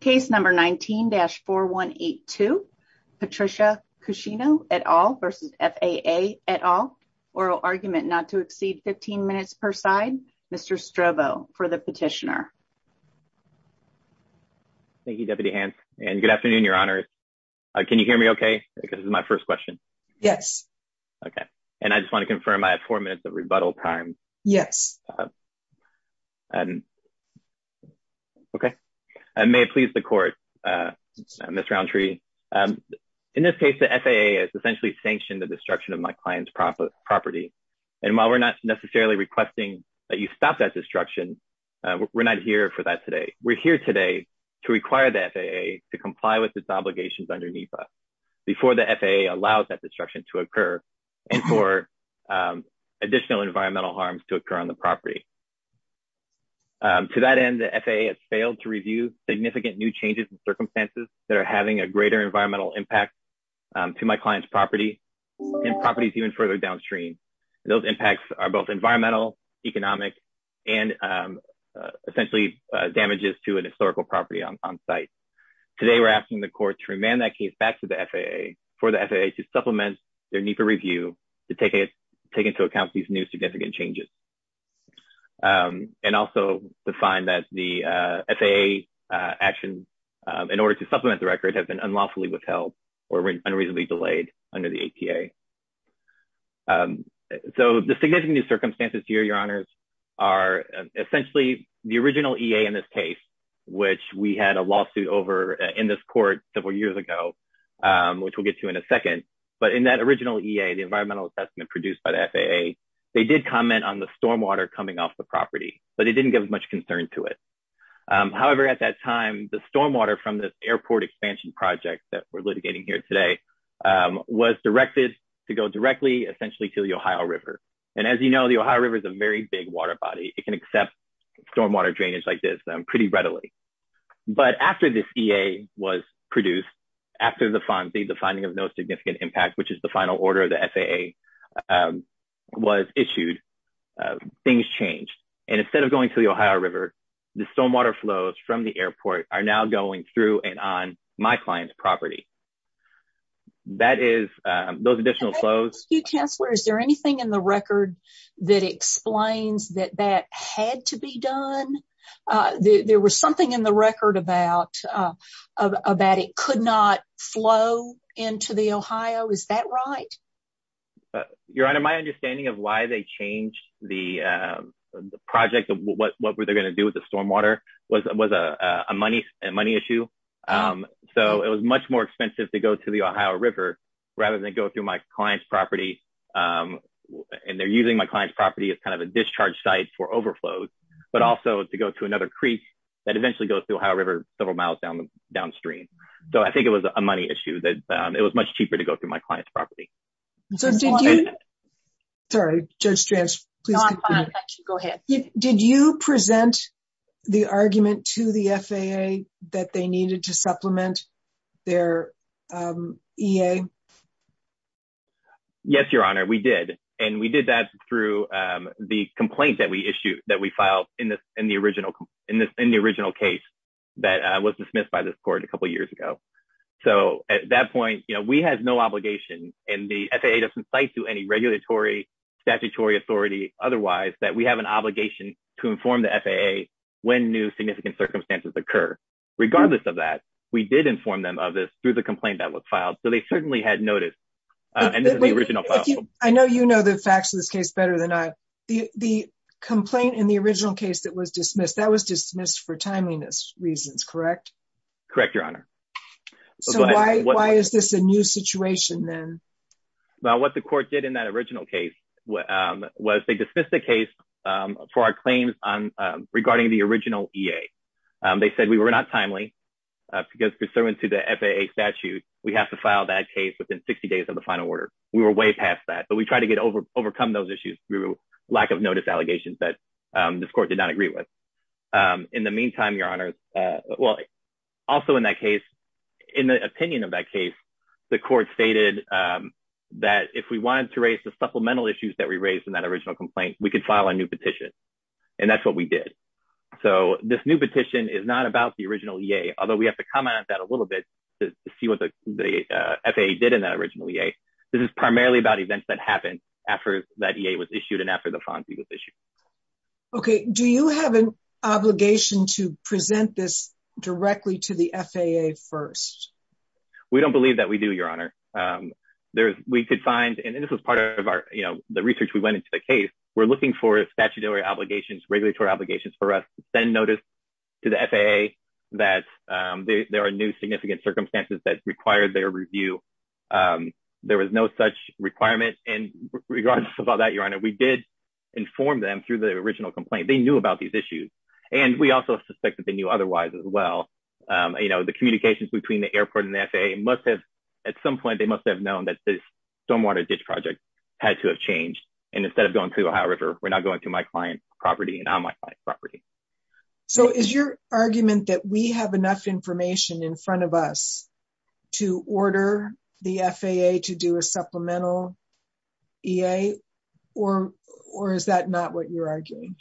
Case No. 19-4182, Patricia Kushino et al. v. FAA et al. Oral argument not to exceed 15 minutes per side. Mr. Strobo for the petitioner. Thank you, Deputy Hance, and good afternoon, Your Honors. Can you hear me okay? This is my first question. Yes. Okay. And I just want to the Court, Ms. Roundtree. In this case, the FAA has essentially sanctioned the destruction of my client's property. And while we're not necessarily requesting that you stop that destruction, we're not here for that today. We're here today to require the FAA to comply with its obligations underneath us before the FAA allows that destruction to occur and for additional environmental harms to occur on the property. To that end, the FAA has failed to review significant new changes and circumstances that are having a greater environmental impact to my client's property and properties even further downstream. Those impacts are both environmental, economic, and essentially damages to an historical property on site. Today, we're asking the Court to remand that case back to the FAA for the FAA to supplement their need for review to take into account these new significant changes. And also, the fine that the FAA action in order to supplement the record has been unlawfully withheld or unreasonably delayed under the APA. So, the significant circumstances here, Your Honors, are essentially the original EA in this case, which we had a lawsuit over in this Court several years ago, which we'll get to in a second. But in that original EA, the environmental assessment produced by the FAA, they did comment on the stormwater coming off the property, but it didn't give much concern to it. However, at that time, the stormwater from this airport expansion project that we're litigating here today was directed to go directly essentially to the Ohio River. And as you know, the Ohio River is a very big water body. It can accept stormwater drainage like this pretty readily. But after this EA was produced, after the finding of no significant impact, which is the final order of the FAA, was issued, things changed. And instead of going to the Ohio River, the stormwater flows from the airport are now going through and on my client's property. That is, those additional flows... Can I ask you, Chancellor, is there anything in the record that explains that that had to be done? There was something in the record about it could not flow into the Ohio. Is that right? Your Honor, my understanding of why they changed the project, what were they going to do with the stormwater, was a money issue. So it was much more expensive to go to the Ohio River rather than go through my client's property. And they're using my client's property as kind of a discharge site for overflows, but also to go to another creek that eventually goes through Ohio River several miles downstream. So I think it was a money issue that it was much cheaper to go through my client's property. So did you... Sorry, Judge Strantz, please continue. No, I'm fine. Go ahead. Did you present the argument to the FAA that they needed to supplement their EA? Yes, Your Honor, we did. And we did that through the complaint that we filed in the original case that was dismissed by this court a couple of years ago. So at that point, we had no obligation, and the FAA doesn't cite to any regulatory statutory authority otherwise that we have an obligation to inform the FAA when new significant circumstances occur. Regardless of that, we did inform them of this through the complaint that was filed. So they certainly had notice. And this is the original file. I know you know the facts of this case better than I do. The complaint in the original case that was dismissed, that was dismissed for timeliness reasons, correct? Correct, Your Honor. So why is this a new situation then? Well, what the court did in that original case was they dismissed the case for our claims regarding the original EA. They said we were not timely because pursuant to the FAA statute, we have to file that case within 60 days of the final order. We were way past that, but we tried to get over overcome those issues through lack of notice allegations that this court did not agree with. In the meantime, Your Honor, well, also in that case, in the opinion of that case, the court stated that if we wanted to raise the supplemental issues that we raised in that original complaint, we could file a new petition. And that's what we did. So this new petition is not about the FAA did in that original EA. This is primarily about events that happened after that EA was issued and after the FONSI was issued. Okay. Do you have an obligation to present this directly to the FAA first? We don't believe that we do, Your Honor. We could find, and this was part of our, you know, the research we went into the case. We're looking for statutory obligations, regulatory obligations for us to send notice to the FAA that there are new significant circumstances that required their review. There was no such requirement. And regardless of all that, Your Honor, we did inform them through the original complaint. They knew about these issues. And we also suspect that they knew otherwise as well. You know, the communications between the airport and the FAA must have, at some point, they must have known that this stormwater ditch project had to have changed. And instead of going to Ohio River, we're not going to my client's property and on my property. So is your argument that we have enough information in front of us to order the FAA to do a supplemental EA, or is that not what you're arguing?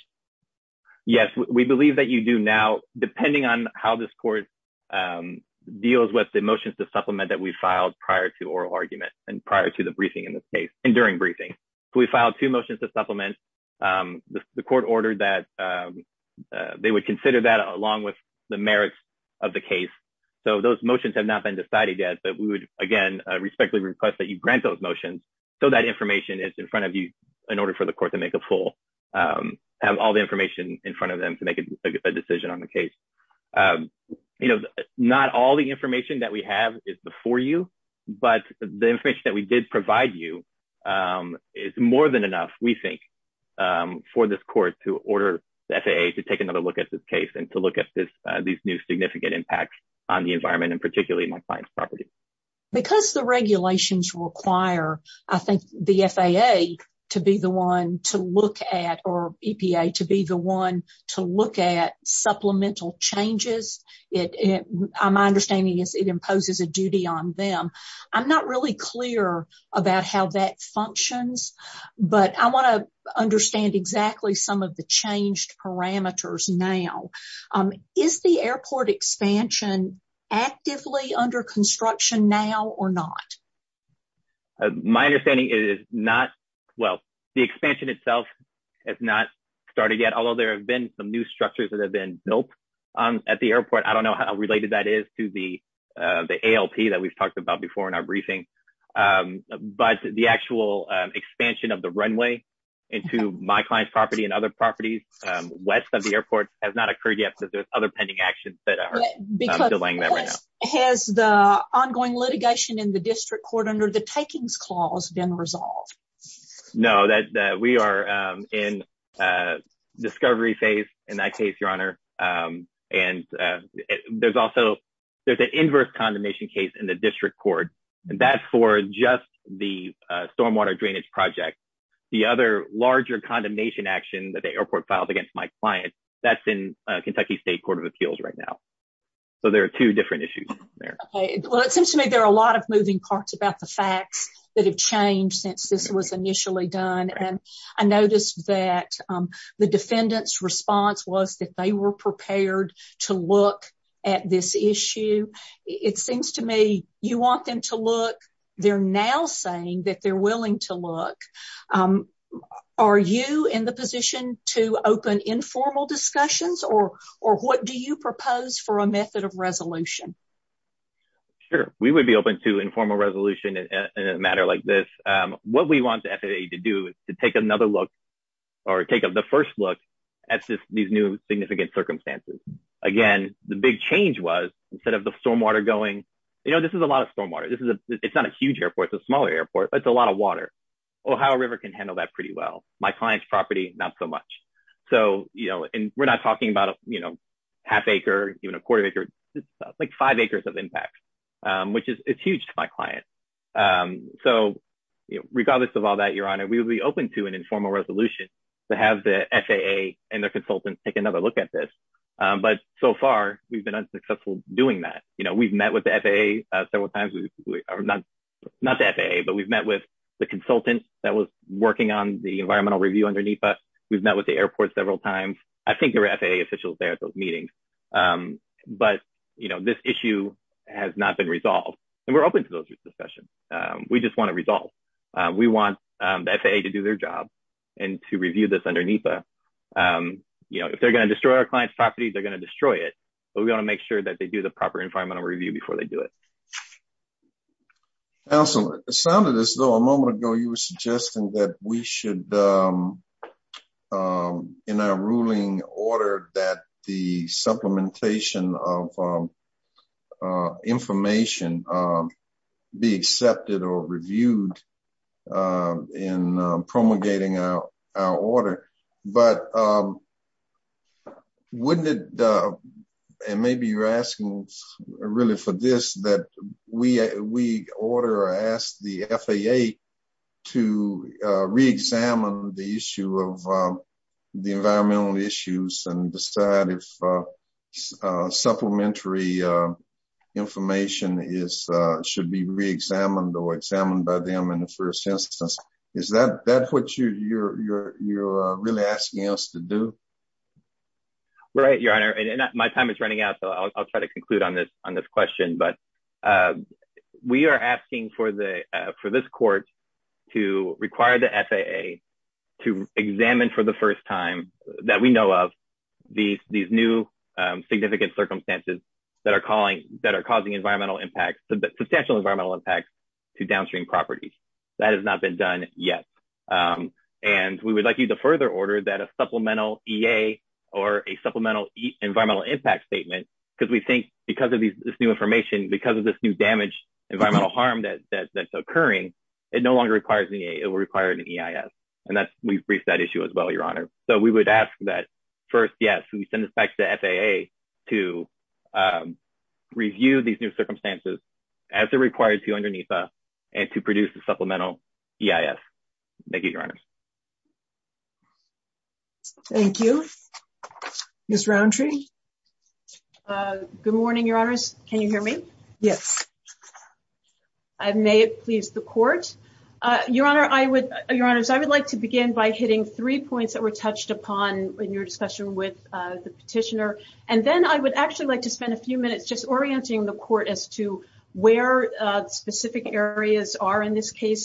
Yes, we believe that you do now, depending on how this court deals with the motions to supplement that we filed prior to oral argument and prior to the briefing in this case and during briefing. We filed two motions to supplement. The court ordered that they would consider that along with the merits of the case. So those motions have not been decided yet. But we would, again, respectfully request that you grant those motions so that information is in front of you in order for the court to make a full, have all the information in front of them to make a decision on the case. You know, not all the information that we have is before you. But the information we did provide you is more than enough, we think, for this court to order the FAA to take another look at this case and to look at these new significant impacts on the environment and particularly my client's property. Because the regulations require, I think, the FAA to be the one to look at or EPA to be the one to look at supplemental changes. My understanding is it about how that functions. But I want to understand exactly some of the changed parameters now. Is the airport expansion actively under construction now or not? My understanding is not. Well, the expansion itself has not started yet, although there have been some new structures that have been built at the airport. I don't know how related that is to the ALP that we've talked about before in our briefing. But the actual expansion of the runway into my client's property and other properties west of the airport has not occurred yet because there's other pending actions that are delaying that right now. Has the ongoing litigation in the district court under the takings clause been resolved? No, we are in a discovery phase in that case, Your Honor. And there's also there's an inverse condemnation case in the district court. And that's for just the stormwater drainage project. The other larger condemnation action that the airport filed against my client, that's in Kentucky State Court of Appeals right now. So there are two different issues there. Well, it seems to me there are a lot of moving parts about the facts that have changed since this was initially done. And I noticed that the defendant's response was that they were prepared to look at this issue. It seems to me you want them to look. They're now saying that they're willing to look. Are you in the position to open informal discussions or what do you propose for a method of resolution? Sure, we would be open to informal resolution in a matter like this. What we want the FAA to do is to take another look or take the first look at these new significant circumstances. Again, the big change was instead of the stormwater going, you know, this is a lot of stormwater. It's not a huge airport, it's a smaller airport, but it's a lot of water. Ohio River can handle that pretty well. My client's property, not so much. So, you know, and we're not talking about, you know, half acre, even a quarter acre, like five acres of impact, which is huge to my client. So regardless of all that, Your Honor, we will be open to an informal resolution to have the FAA and their consultants take another look at this. But so far we've been unsuccessful doing that. You know, we've met with the FAA several times. Not the FAA, but we've met with the consultant that was working on the environmental review underneath us. We've met with the airport several times. I think there were FAA officials there at those meetings. But, you know, this issue has not been resolved. And we're open to those discussions. We just want a result. We want the FAA to do their job and to review this under NEPA. You know, if they're going to destroy our client's property, they're going to destroy it. But we want to make sure that they do the proper environmental review before they do it. Counselor, it sounded as though a moment ago you were suggesting that we should, in our ruling, order that the supplementation of information be accepted or reviewed in promulgating our order. But wouldn't it, and maybe you're asking really for this, that we order or ask the FAA to re-examine the issue of the environmental issues and decide if supplementary information should be re-examined or examined by them in the first instance? Is that what you're really asking us to do? Right, Your Honor. My time is running out, so I'll try to conclude on this question. But we are asking for this court to require the FAA to examine for the first time, that we know of, these new significant circumstances that are calling, that are causing environmental impacts, substantial environmental impacts to downstream properties. That has not been done yet. And we would like you to further order that a supplemental EA or a supplemental environmental impact statement, because we think because of this new information, because of this new damage, environmental harm that's occurring, it no longer requires an EA, it will require an EIS. And we've briefed that issue as well, Your Honor. So we would ask that first, yes, we send this back to the FAA to review these new circumstances as it requires to underneath us and to produce a supplemental EIS. Thank you, Your Honor. Thank you. Ms. Roundtree? Good morning, Your Honors. Can you hear me? Yes. May it please the court. Your Honor, I would, Your Honors, I would like to begin by hitting three points that were touched upon in your discussion with the petitioner. And then I would actually like to spend a few minutes just orienting the court as to where specific areas are in this between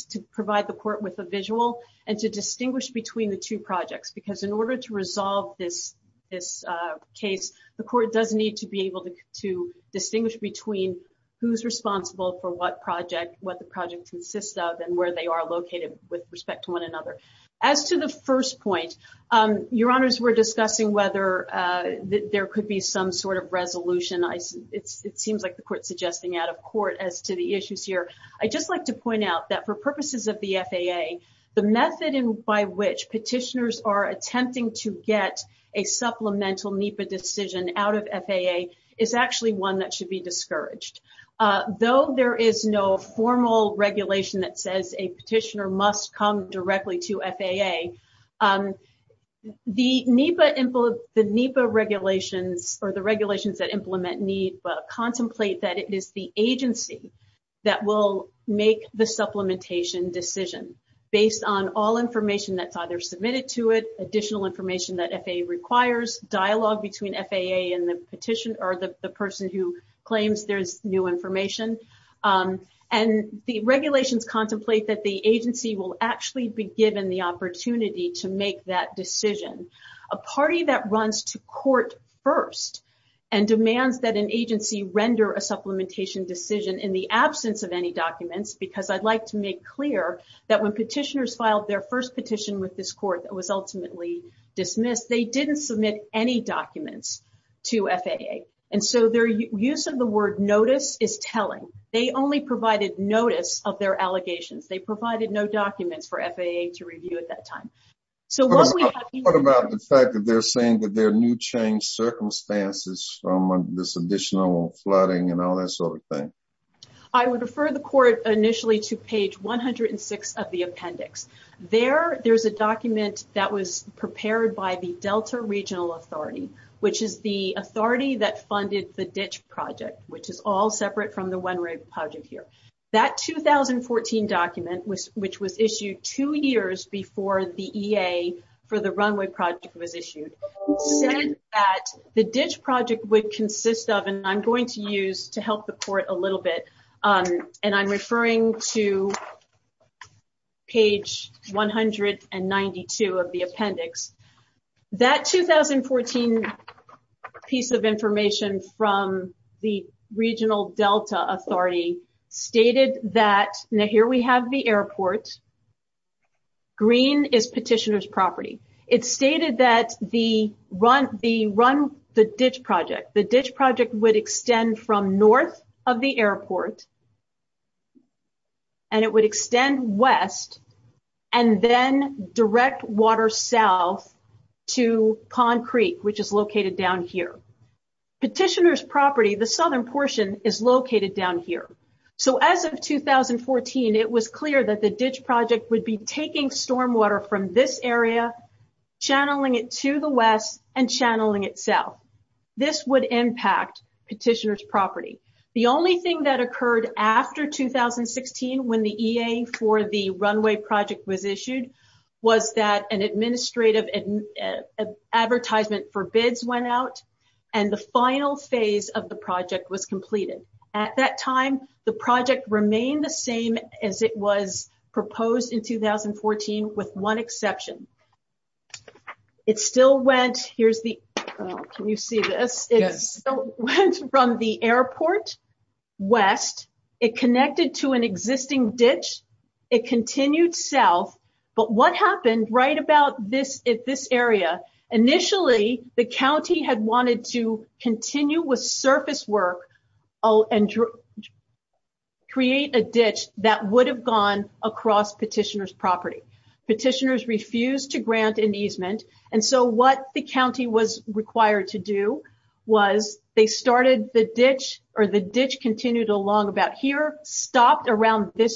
the two projects. Because in order to resolve this case, the court does need to be able to distinguish between who's responsible for what project, what the project consists of, and where they are located with respect to one another. As to the first point, Your Honors, we're discussing whether there could be some sort of resolution. It seems like the court's suggesting out of court as to the issues here. I'd just like to point out that for purposes of the FAA, the method by which petitioners are attempting to get a supplemental NEPA decision out of FAA is actually one that should be discouraged. Though there is no formal regulation that says a petitioner must come directly to FAA, the NEPA regulations or the regulations that implement NEPA contemplate that it is the agency that will make the supplementation decision based on all information that's either submitted to it, additional information that FAA requires, dialogue between FAA and the petitioner or the person who claims there's new information. And the regulations contemplate that the agency will actually be given the opportunity to make that decision. A party that runs to court first and demands that an agency render a supplementation decision in the absence of any documents, because I'd like to make clear that when petitioners filed their first petition with this court that was ultimately dismissed, they didn't submit any documents to FAA. And so their use of the word notice is telling. They only provided notice of allegations. They provided no documents for FAA to review at that time. So what about the fact that they're saying that there are new change circumstances from this additional flooding and all that sort of thing? I would refer the court initially to page 106 of the appendix. There, there's a document that was prepared by the Delta Regional Authority, which is the authority that funded the ditch project, which is all separate from the one project here. That 2014 document, which was issued two years before the EA for the runway project was issued, said that the ditch project would consist of, and I'm going to use to help the court a little bit, and I'm referring to page 192 of the appendix. That 2014 piece of information from the Regional Delta Authority stated that, now here we have the airport. Green is petitioner's property. It stated that the run, the run, the ditch project, the ditch project would extend from north of the airport and it would extend west and then direct water south to Conn Creek, which is located down here. Petitioner's property, the southern portion, is located down here. So as of 2014, it was clear that the ditch project would be taking stormwater from this area, channeling it to the west, and channeling it south. This would impact petitioner's property. The only thing that occurred after 2016 when the EA for the was that an administrative advertisement for bids went out and the final phase of the project was completed. At that time, the project remained the same as it was proposed in 2014 with one exception. It still went, here's the, can you see this? It still went from the airport west. It connected to an existing ditch. It continued south. But what happened right about this area? Initially, the county had wanted to continue with surface work and create a ditch that would have gone across petitioner's property. Petitioners refused to grant an easement. And so what the county was this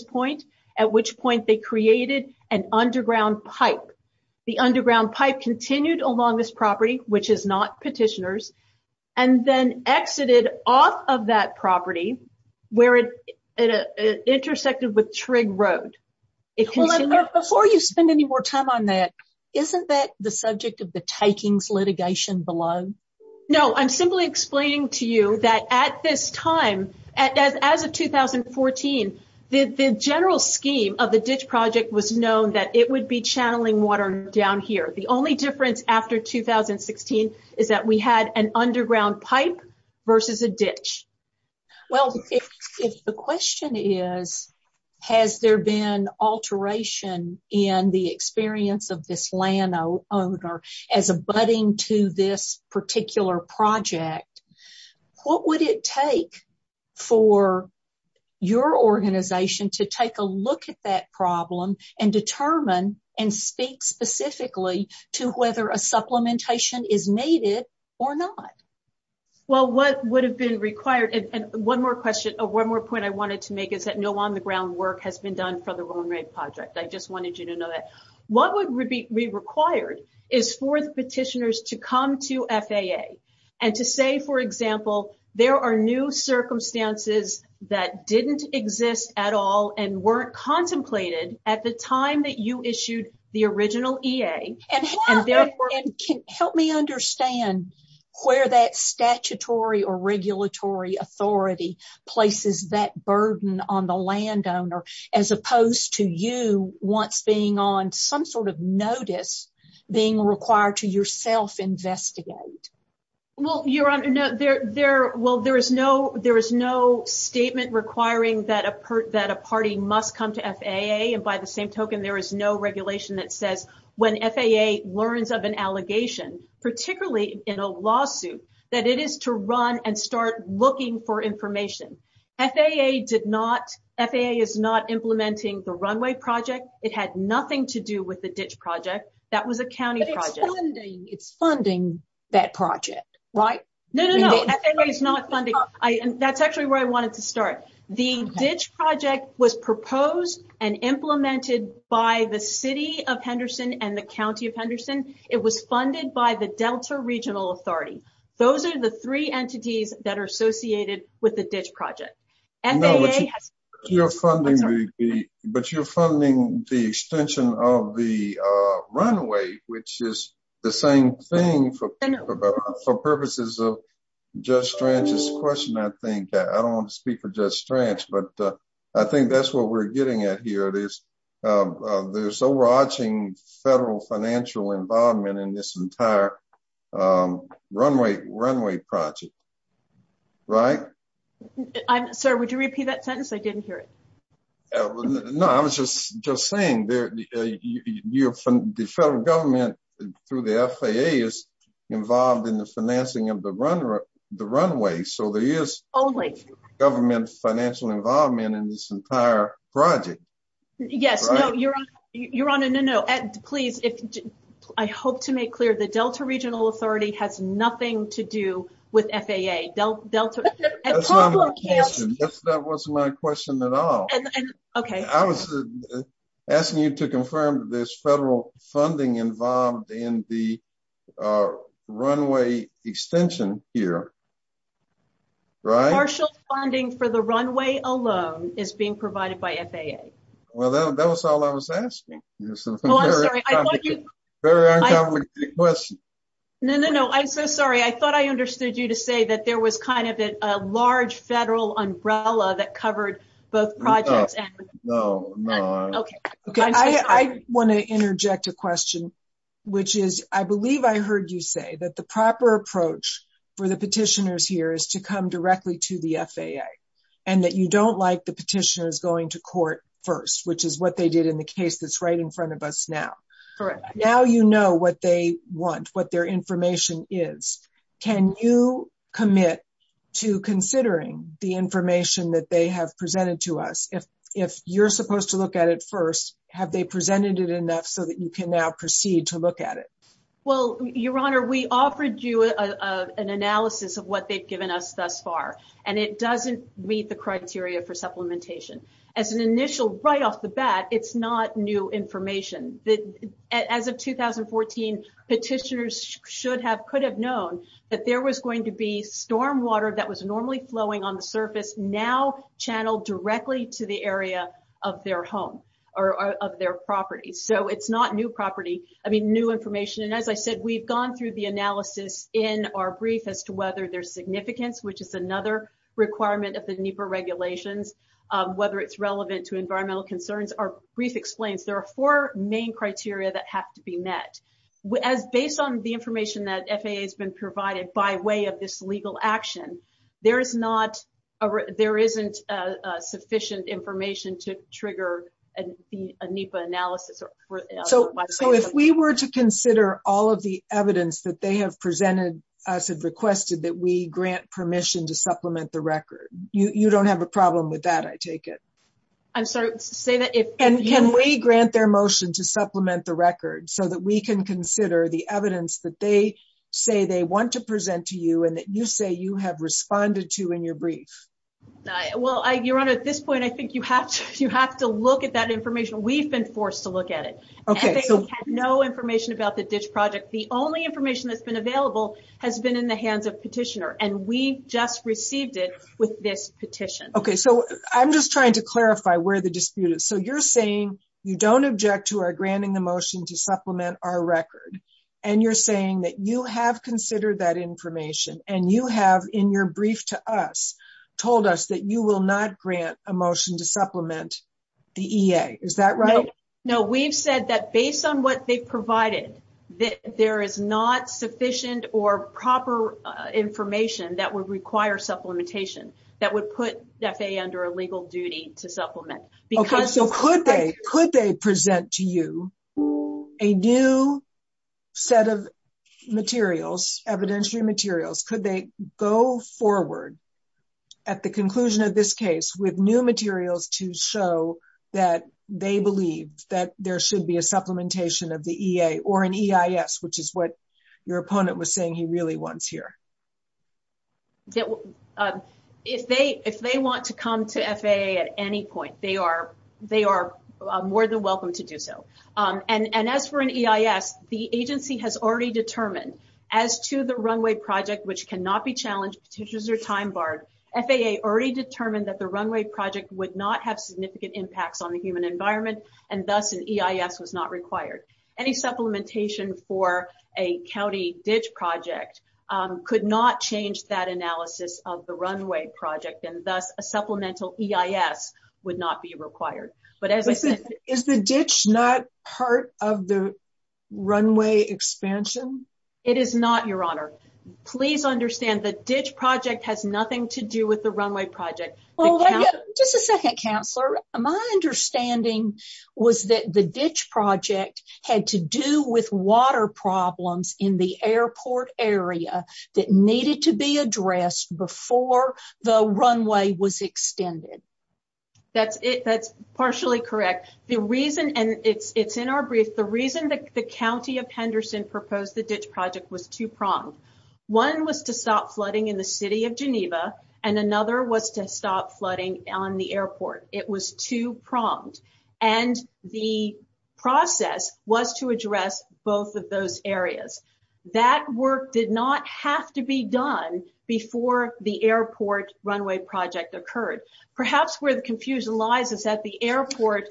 point, at which point they created an underground pipe. The underground pipe continued along this property, which is not petitioner's, and then exited off of that property where it intersected with Trigg Road. Before you spend any more time on that, isn't that the subject of the takings litigation below? No, I'm simply explaining to you that at this time, as of 2014, the general scheme of the ditch project was known that it would be channeling water down here. The only difference after 2016 is that we had an underground pipe versus a ditch. Well, if the question is, has there been alteration in the experience of this landowner as abutting to this to take a look at that problem and determine and speak specifically to whether a supplementation is needed or not? Well, what would have been required, and one more question, one more point I wanted to make is that no on the ground work has been done for the Roan Ray project. I just wanted you to know that. What would be required is for the petitioners to come to FAA and to say, for example, there are new circumstances that didn't exist at all and weren't contemplated at the time that you issued the original EA. Help me understand where that statutory or regulatory authority places that burden on the landowner as opposed to you once being on some sort of notice being required to yourself investigate? Well, Your Honor, there is no statement requiring that a party must come to FAA. And by the same token, there is no regulation that says when FAA learns of an allegation, particularly in a lawsuit, that it is to run and start looking for information. FAA is not implementing the Roan Ray project. It had nothing to do with the ditch project. That was a county project. But it's funding that project, right? No, no, no. FAA is not funding. That's actually where I wanted to start. The ditch project was proposed and implemented by the City of Henderson and the County of Henderson. It was funded by the Delta Regional Authority. Those are the three entities that are associated with the ditch project. No, but you're funding the extension of the runway, which is the same thing for purposes of Judge Strange's question, I think. I don't want to speak for Judge Strange, but I think that's what we're getting at here. There's overarching federal financial involvement in this would you repeat that sentence? I didn't hear it. No, I was just saying the federal government through the FAA is involved in the financing of the runway. So there is government financial involvement in this entire project. Yes, no, you're on a no-no. Please, I hope to make clear the Delta Regional Authority has nothing to do with FAA. That wasn't my question at all. Okay. I was asking you to confirm that there's federal funding involved in the runway extension here, right? Partial funding for the runway alone is being provided by FAA. Well, that was all I was asking. Very uncomplicated question. No, no, no. I'm so sorry. I thought I understood you to say that there was kind of a large federal umbrella that covered both projects. No, no. Okay. I want to interject a question, which is I believe I heard you say that the proper approach for the petitioners here is to come directly to the FAA and that you don't like the petitioners going to court first, which is what they did in the case that's right in front of us now. Correct. Now you know what they want, what their information is. Can you commit to considering the information that they have presented to us? If you're supposed to look at it first, have they presented it enough so that you can now proceed to look at it? Well, Your Honor, we offered you an analysis of what they've given us thus far, and it doesn't meet the criteria for supplementation. As an initial, right off the bat, it's not new information. As of 2014, petitioners could have known that there was going to be stormwater that was normally flowing on the surface now channeled directly to the area of their home or of their property. So it's not new information. And as I said, we've gone through the analysis in our brief as to whether there's significance, which is another requirement of the NEPA regulations, whether it's relevant to environmental concerns. Our brief explains there are four main criteria that have to be met. As based on the information that FAA has been provided by way of this legal action, there isn't sufficient information to trigger a NEPA analysis. So if we were to consider all of the evidence that they have presented, us have requested that we grant permission to supplement the record. You don't have a problem with that, I take it. I'm sorry, say that if... And can we grant their motion to supplement the record so that we can consider the evidence that they say they want to present to you and that you say you have responded to in your brief? Well, Your Honor, at this point, I think you have to look at that information. We've been forced to look at it. Okay, so... And they have no information about the ditch project. The only information that's been available has been in the hands of petitioner and we just received it with this petition. Okay, so I'm just trying to clarify where the dispute is. So you're saying you don't object to our granting the motion to supplement our record and you're saying that you have considered that information and you have in your brief to us told us that you will not grant a motion to supplement the EA, is that right? No, we've said that based on what they provided, that there is not sufficient or proper information that would require supplementation that would put FAA under a legal duty to supplement. Okay, so could they present to you a new set of materials, evidentiary materials, could they go forward at the conclusion of this case with new materials to show that they believe that there should be a supplementation of the EA or an EIS, which is what your opponent was saying he really wants here? If they want to come to FAA at any point, they are more than welcome to do so. And as for an EIS, the agency has already determined as to the runway project, which cannot be challenged, petitions are time barred, FAA already determined that the runway project would not have significant impacts on the human environment and thus an EIS was not required. Any supplementation for a county ditch project could not change that analysis of the runway project and thus a supplemental EIS would not be required. But as I said, is the ditch not part of the runway expansion? It is not, your honor. Please understand the ditch project has nothing to do with the runway project. Just a second, counselor. My understanding was that the ditch project had to do with water problems in the airport area that needed to be addressed before the runway was extended. That's partially correct. The reason, and it's in our brief, the reason that the county of Henderson proposed the ditch project was two-pronged. One was to stop flooding in the city of Geneva and another was to stop flooding on the airport. It was two-pronged and the process was to address both of those areas. That work did not have to be done before the airport runway project occurred. Perhaps where the confusion lies is that the airport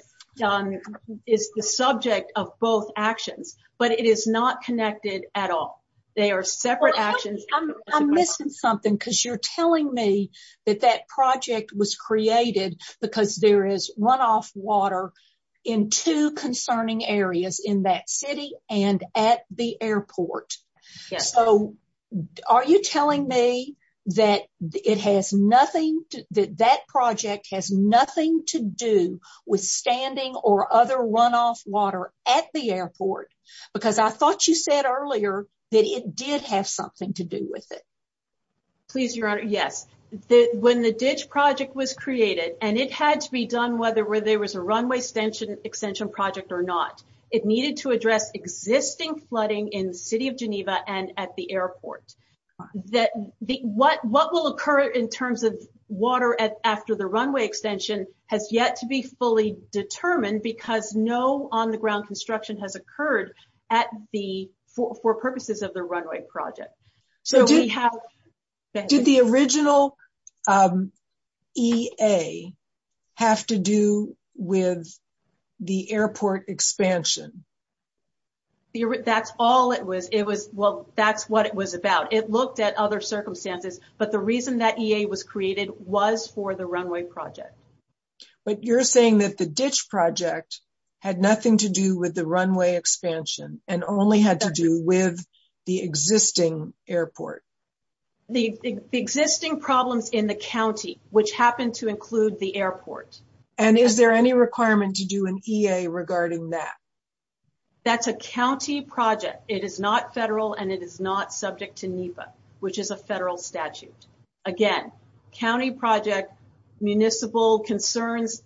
is the subject of both actions but it is not connected at all. They are separate actions. I'm missing something because you're telling me that that project was created because there is runoff water in two concerning areas in that city and at the airport. So are you telling me that that project has nothing to do with standing or other runoff water at the airport? Because I thought you said earlier that it did have something to do with it. Please your honor, yes. When the ditch project was created and it had to be done whether there was a runway extension project or not, it needed to address existing flooding in the city of Geneva and at the airport. What will occur in terms of water after the runway extension has yet to be fully determined because no on-the-ground construction has occurred for purposes of the runway project. Did the original EA have to do with the airport expansion? That's all it was. It was, well, that's what it was about. It looked at other circumstances but the reason that EA was created was for the runway project. But you're saying that the ditch project had nothing to do with the runway expansion and only had to do with the existing airport? The existing problems in the county which happen to include the airport. And is there any requirement to do an EA regarding that? That's a county project. It is not federal and it is not subject to NEPA, which is a federal statute. Again, county project, municipal concerns,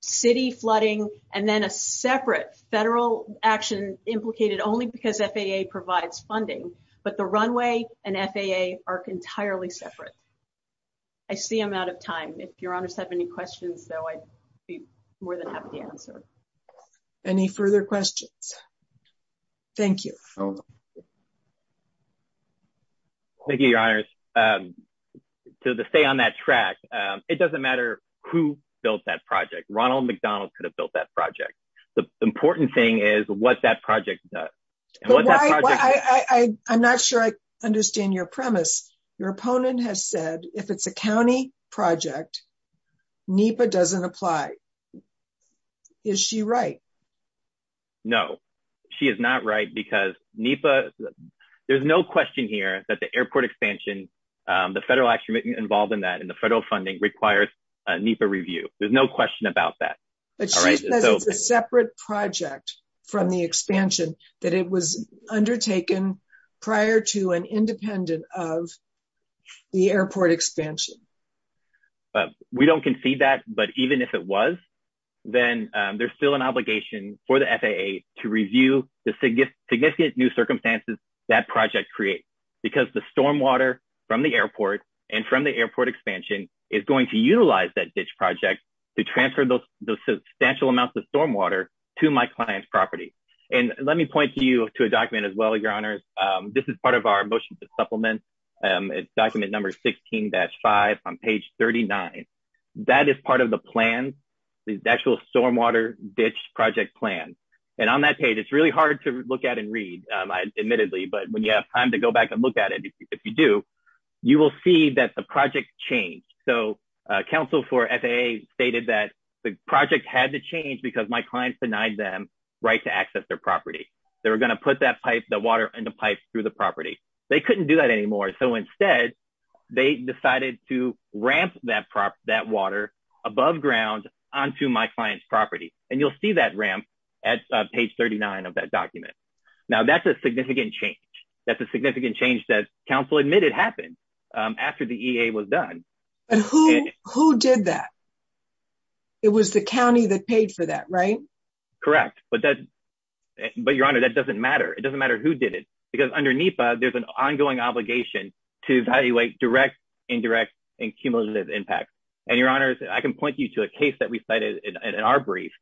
city flooding, and then a separate federal action implicated only because FAA provides funding. But the runway and FAA are entirely separate. I see I'm out of time. If your honors have any questions, though, I'd be more than happy to answer. Any further questions? Thank you. Thank you, your honors. To stay on that track, it doesn't matter who built that project. Ronald McDonald could have built that project. The important thing is what that project does. I'm not sure I understand your premise. Your opponent has said if it's a county project, NEPA doesn't apply. Is she right? No, she is not right because NEPA, there's no question here that the airport expansion, the federal action involved in that and the federal funding requires a NEPA review. There's no question about that. But she says it's a separate project from the expansion that it was undertaken prior to and we don't concede that. But even if it was, then there's still an obligation for the FAA to review the significant new circumstances that project creates because the stormwater from the airport and from the airport expansion is going to utilize that ditch project to transfer those substantial amounts of stormwater to my client's property. And let me point you to a document as well, this is part of our motion to supplement. It's document number 16-5 on page 39. That is part of the plan, the actual stormwater ditch project plan. And on that page, it's really hard to look at and read, admittedly, but when you have time to go back and look at it, if you do, you will see that the project changed. So council for FAA stated that the project had to change because my clients denied them right to access their property. They were going to put that pipe, water in the pipe through the property. They couldn't do that anymore. So instead, they decided to ramp that water above ground onto my client's property. And you'll see that ramp at page 39 of that document. Now that's a significant change. That's a significant change that council admitted happened after the EA was done. But who did that? It was the county that paid for that, right? Correct. But Your Honor, that doesn't matter. It doesn't matter who did it because under NEPA, there's an ongoing obligation to evaluate direct, indirect, and cumulative impact. And Your Honors, I can point you to a case that we cited in our brief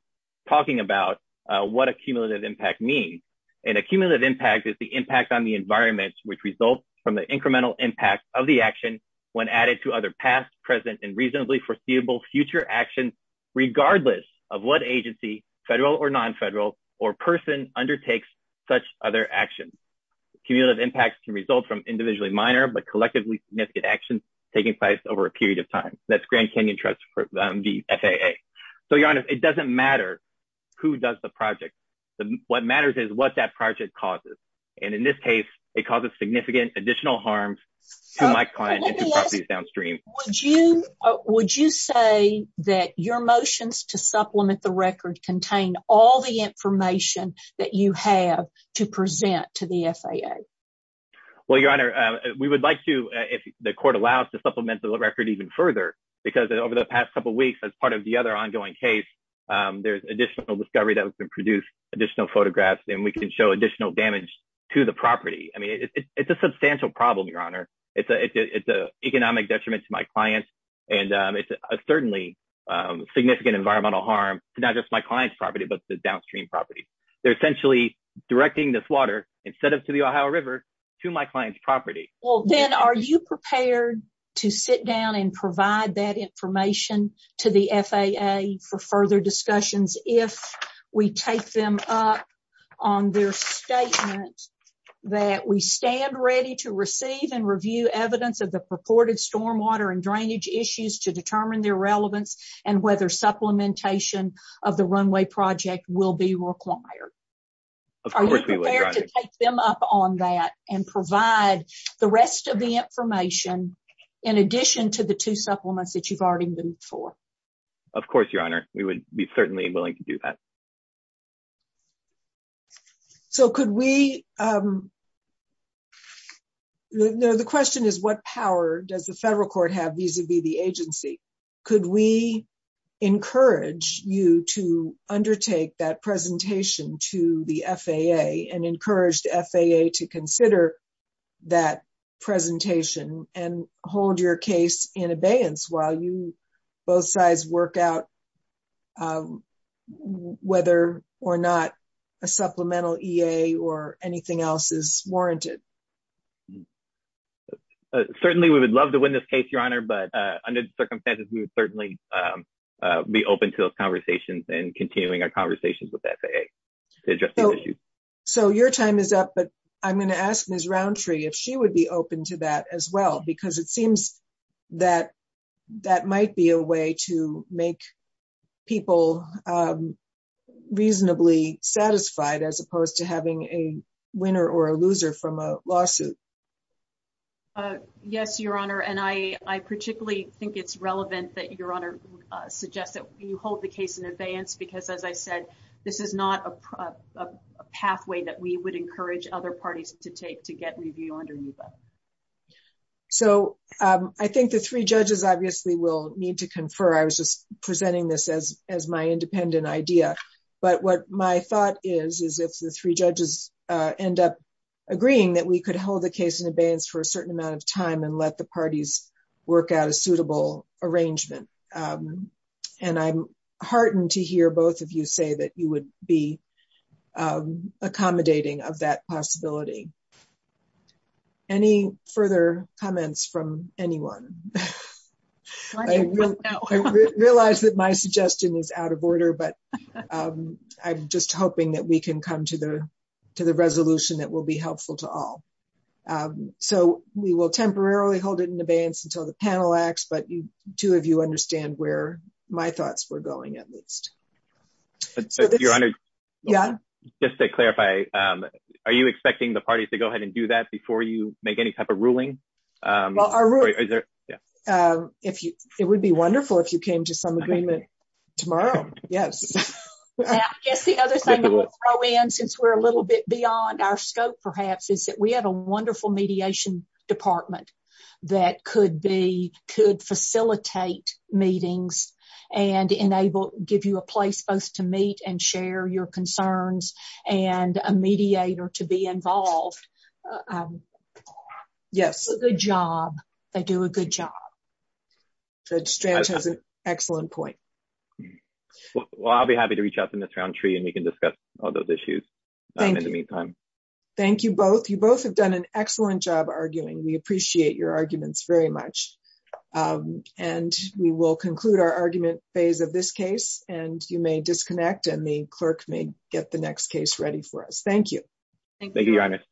talking about what a cumulative impact means. And a cumulative impact is the impact on the environment, which results from the incremental impact of the action when added to other past, present, and reasonably foreseeable future actions, regardless of what agency, federal or non-federal, or person undertakes such other actions. Cumulative impacts can result from individually minor but collectively significant actions taking place over a period of time. That's Grand Canyon Trust v. FAA. So Your Honors, it doesn't matter who does the project. What matters is what that project causes. And in this case, it causes significant additional harm to my client and to properties downstream. Would you say that your motions to supplement the record contain all the information that you have to present to the FAA? Well, Your Honor, we would like to, if the court allows, to supplement the record even further because over the past couple weeks, as part of the other ongoing case, there's additional discovery that has been produced, additional photographs, and we can show additional damage to the property. I mean, it's a substantial problem, Your Honor. It's an economic detriment to my clients, and it's a certainly significant environmental harm to not just my client's property but the downstream property. They're essentially directing this water, instead of to the Ohio River, to my client's property. Well, then are you prepared to sit down and provide that information to the FAA for further discussions if we take them up on their statement that we stand ready to receive and review evidence of the purported stormwater and drainage issues to determine their relevance and whether supplementation of the runway project will be required? Of course we would, Your Honor. Are you prepared to take them up on that and provide the rest of the information in addition to the two supplements that you've already moved for? Of course, Your Honor. We would be certainly willing to do that. The question is, what power does the federal court have vis-a-vis the agency? Could we encourage you to undertake that presentation to the FAA and encourage the FAA to consider that presentation and hold your case in abeyance while you both sides work out whether or not a supplemental EA or anything else is warranted? Certainly, we would love to win this case, Your Honor, but under the circumstances, we would certainly be open to those conversations and continuing our conversations with the FAA to address these issues. So your time is up, but I'm going to ask Ms. Roundtree if she would be open to that as well because it seems that that might be a way to make people reasonably satisfied as opposed to having a winner or a loser from a lawsuit. Yes, Your Honor, and I particularly think it's relevant that Your Honor suggests that you hold the case in abeyance because, as I said, this is not a pathway that we would encourage other parties to take to get review under UBA. So I think the three judges obviously will need to confer. I was just presenting this as my independent idea, but what my thought is is if the three judges end up agreeing that we could hold the case in abeyance for a certain amount of time and let the parties work out a suitable arrangement. And I'm heartened to hear both of you say that you would be of that possibility. Any further comments from anyone? I realize that my suggestion is out of order, but I'm just hoping that we can come to the resolution that will be helpful to all. So we will temporarily hold it in abeyance until the panel acts, but two of you understand where my thoughts were going at least. So Your Honor, just to clarify, are you expecting the parties to go ahead and do that before you make any type of ruling? Well, it would be wonderful if you came to some agreement tomorrow. Yes. I guess the other thing that we'll throw in since we're a little bit beyond our scope, perhaps, is that we have a wonderful mediation department that could facilitate meetings and give you a place both to meet and share your concerns and a mediator to be involved. Yes. A good job. They do a good job. Judge Stranch has an excellent point. Well, I'll be happy to reach out to Ms. Roundtree and we can discuss all those issues in the meantime. Thank you. Thank you both. You both have done an excellent job arguing. We conclude our argument phase of this case and you may disconnect and the clerk may get the next case ready for us. Thank you. Thank you, Your Honor.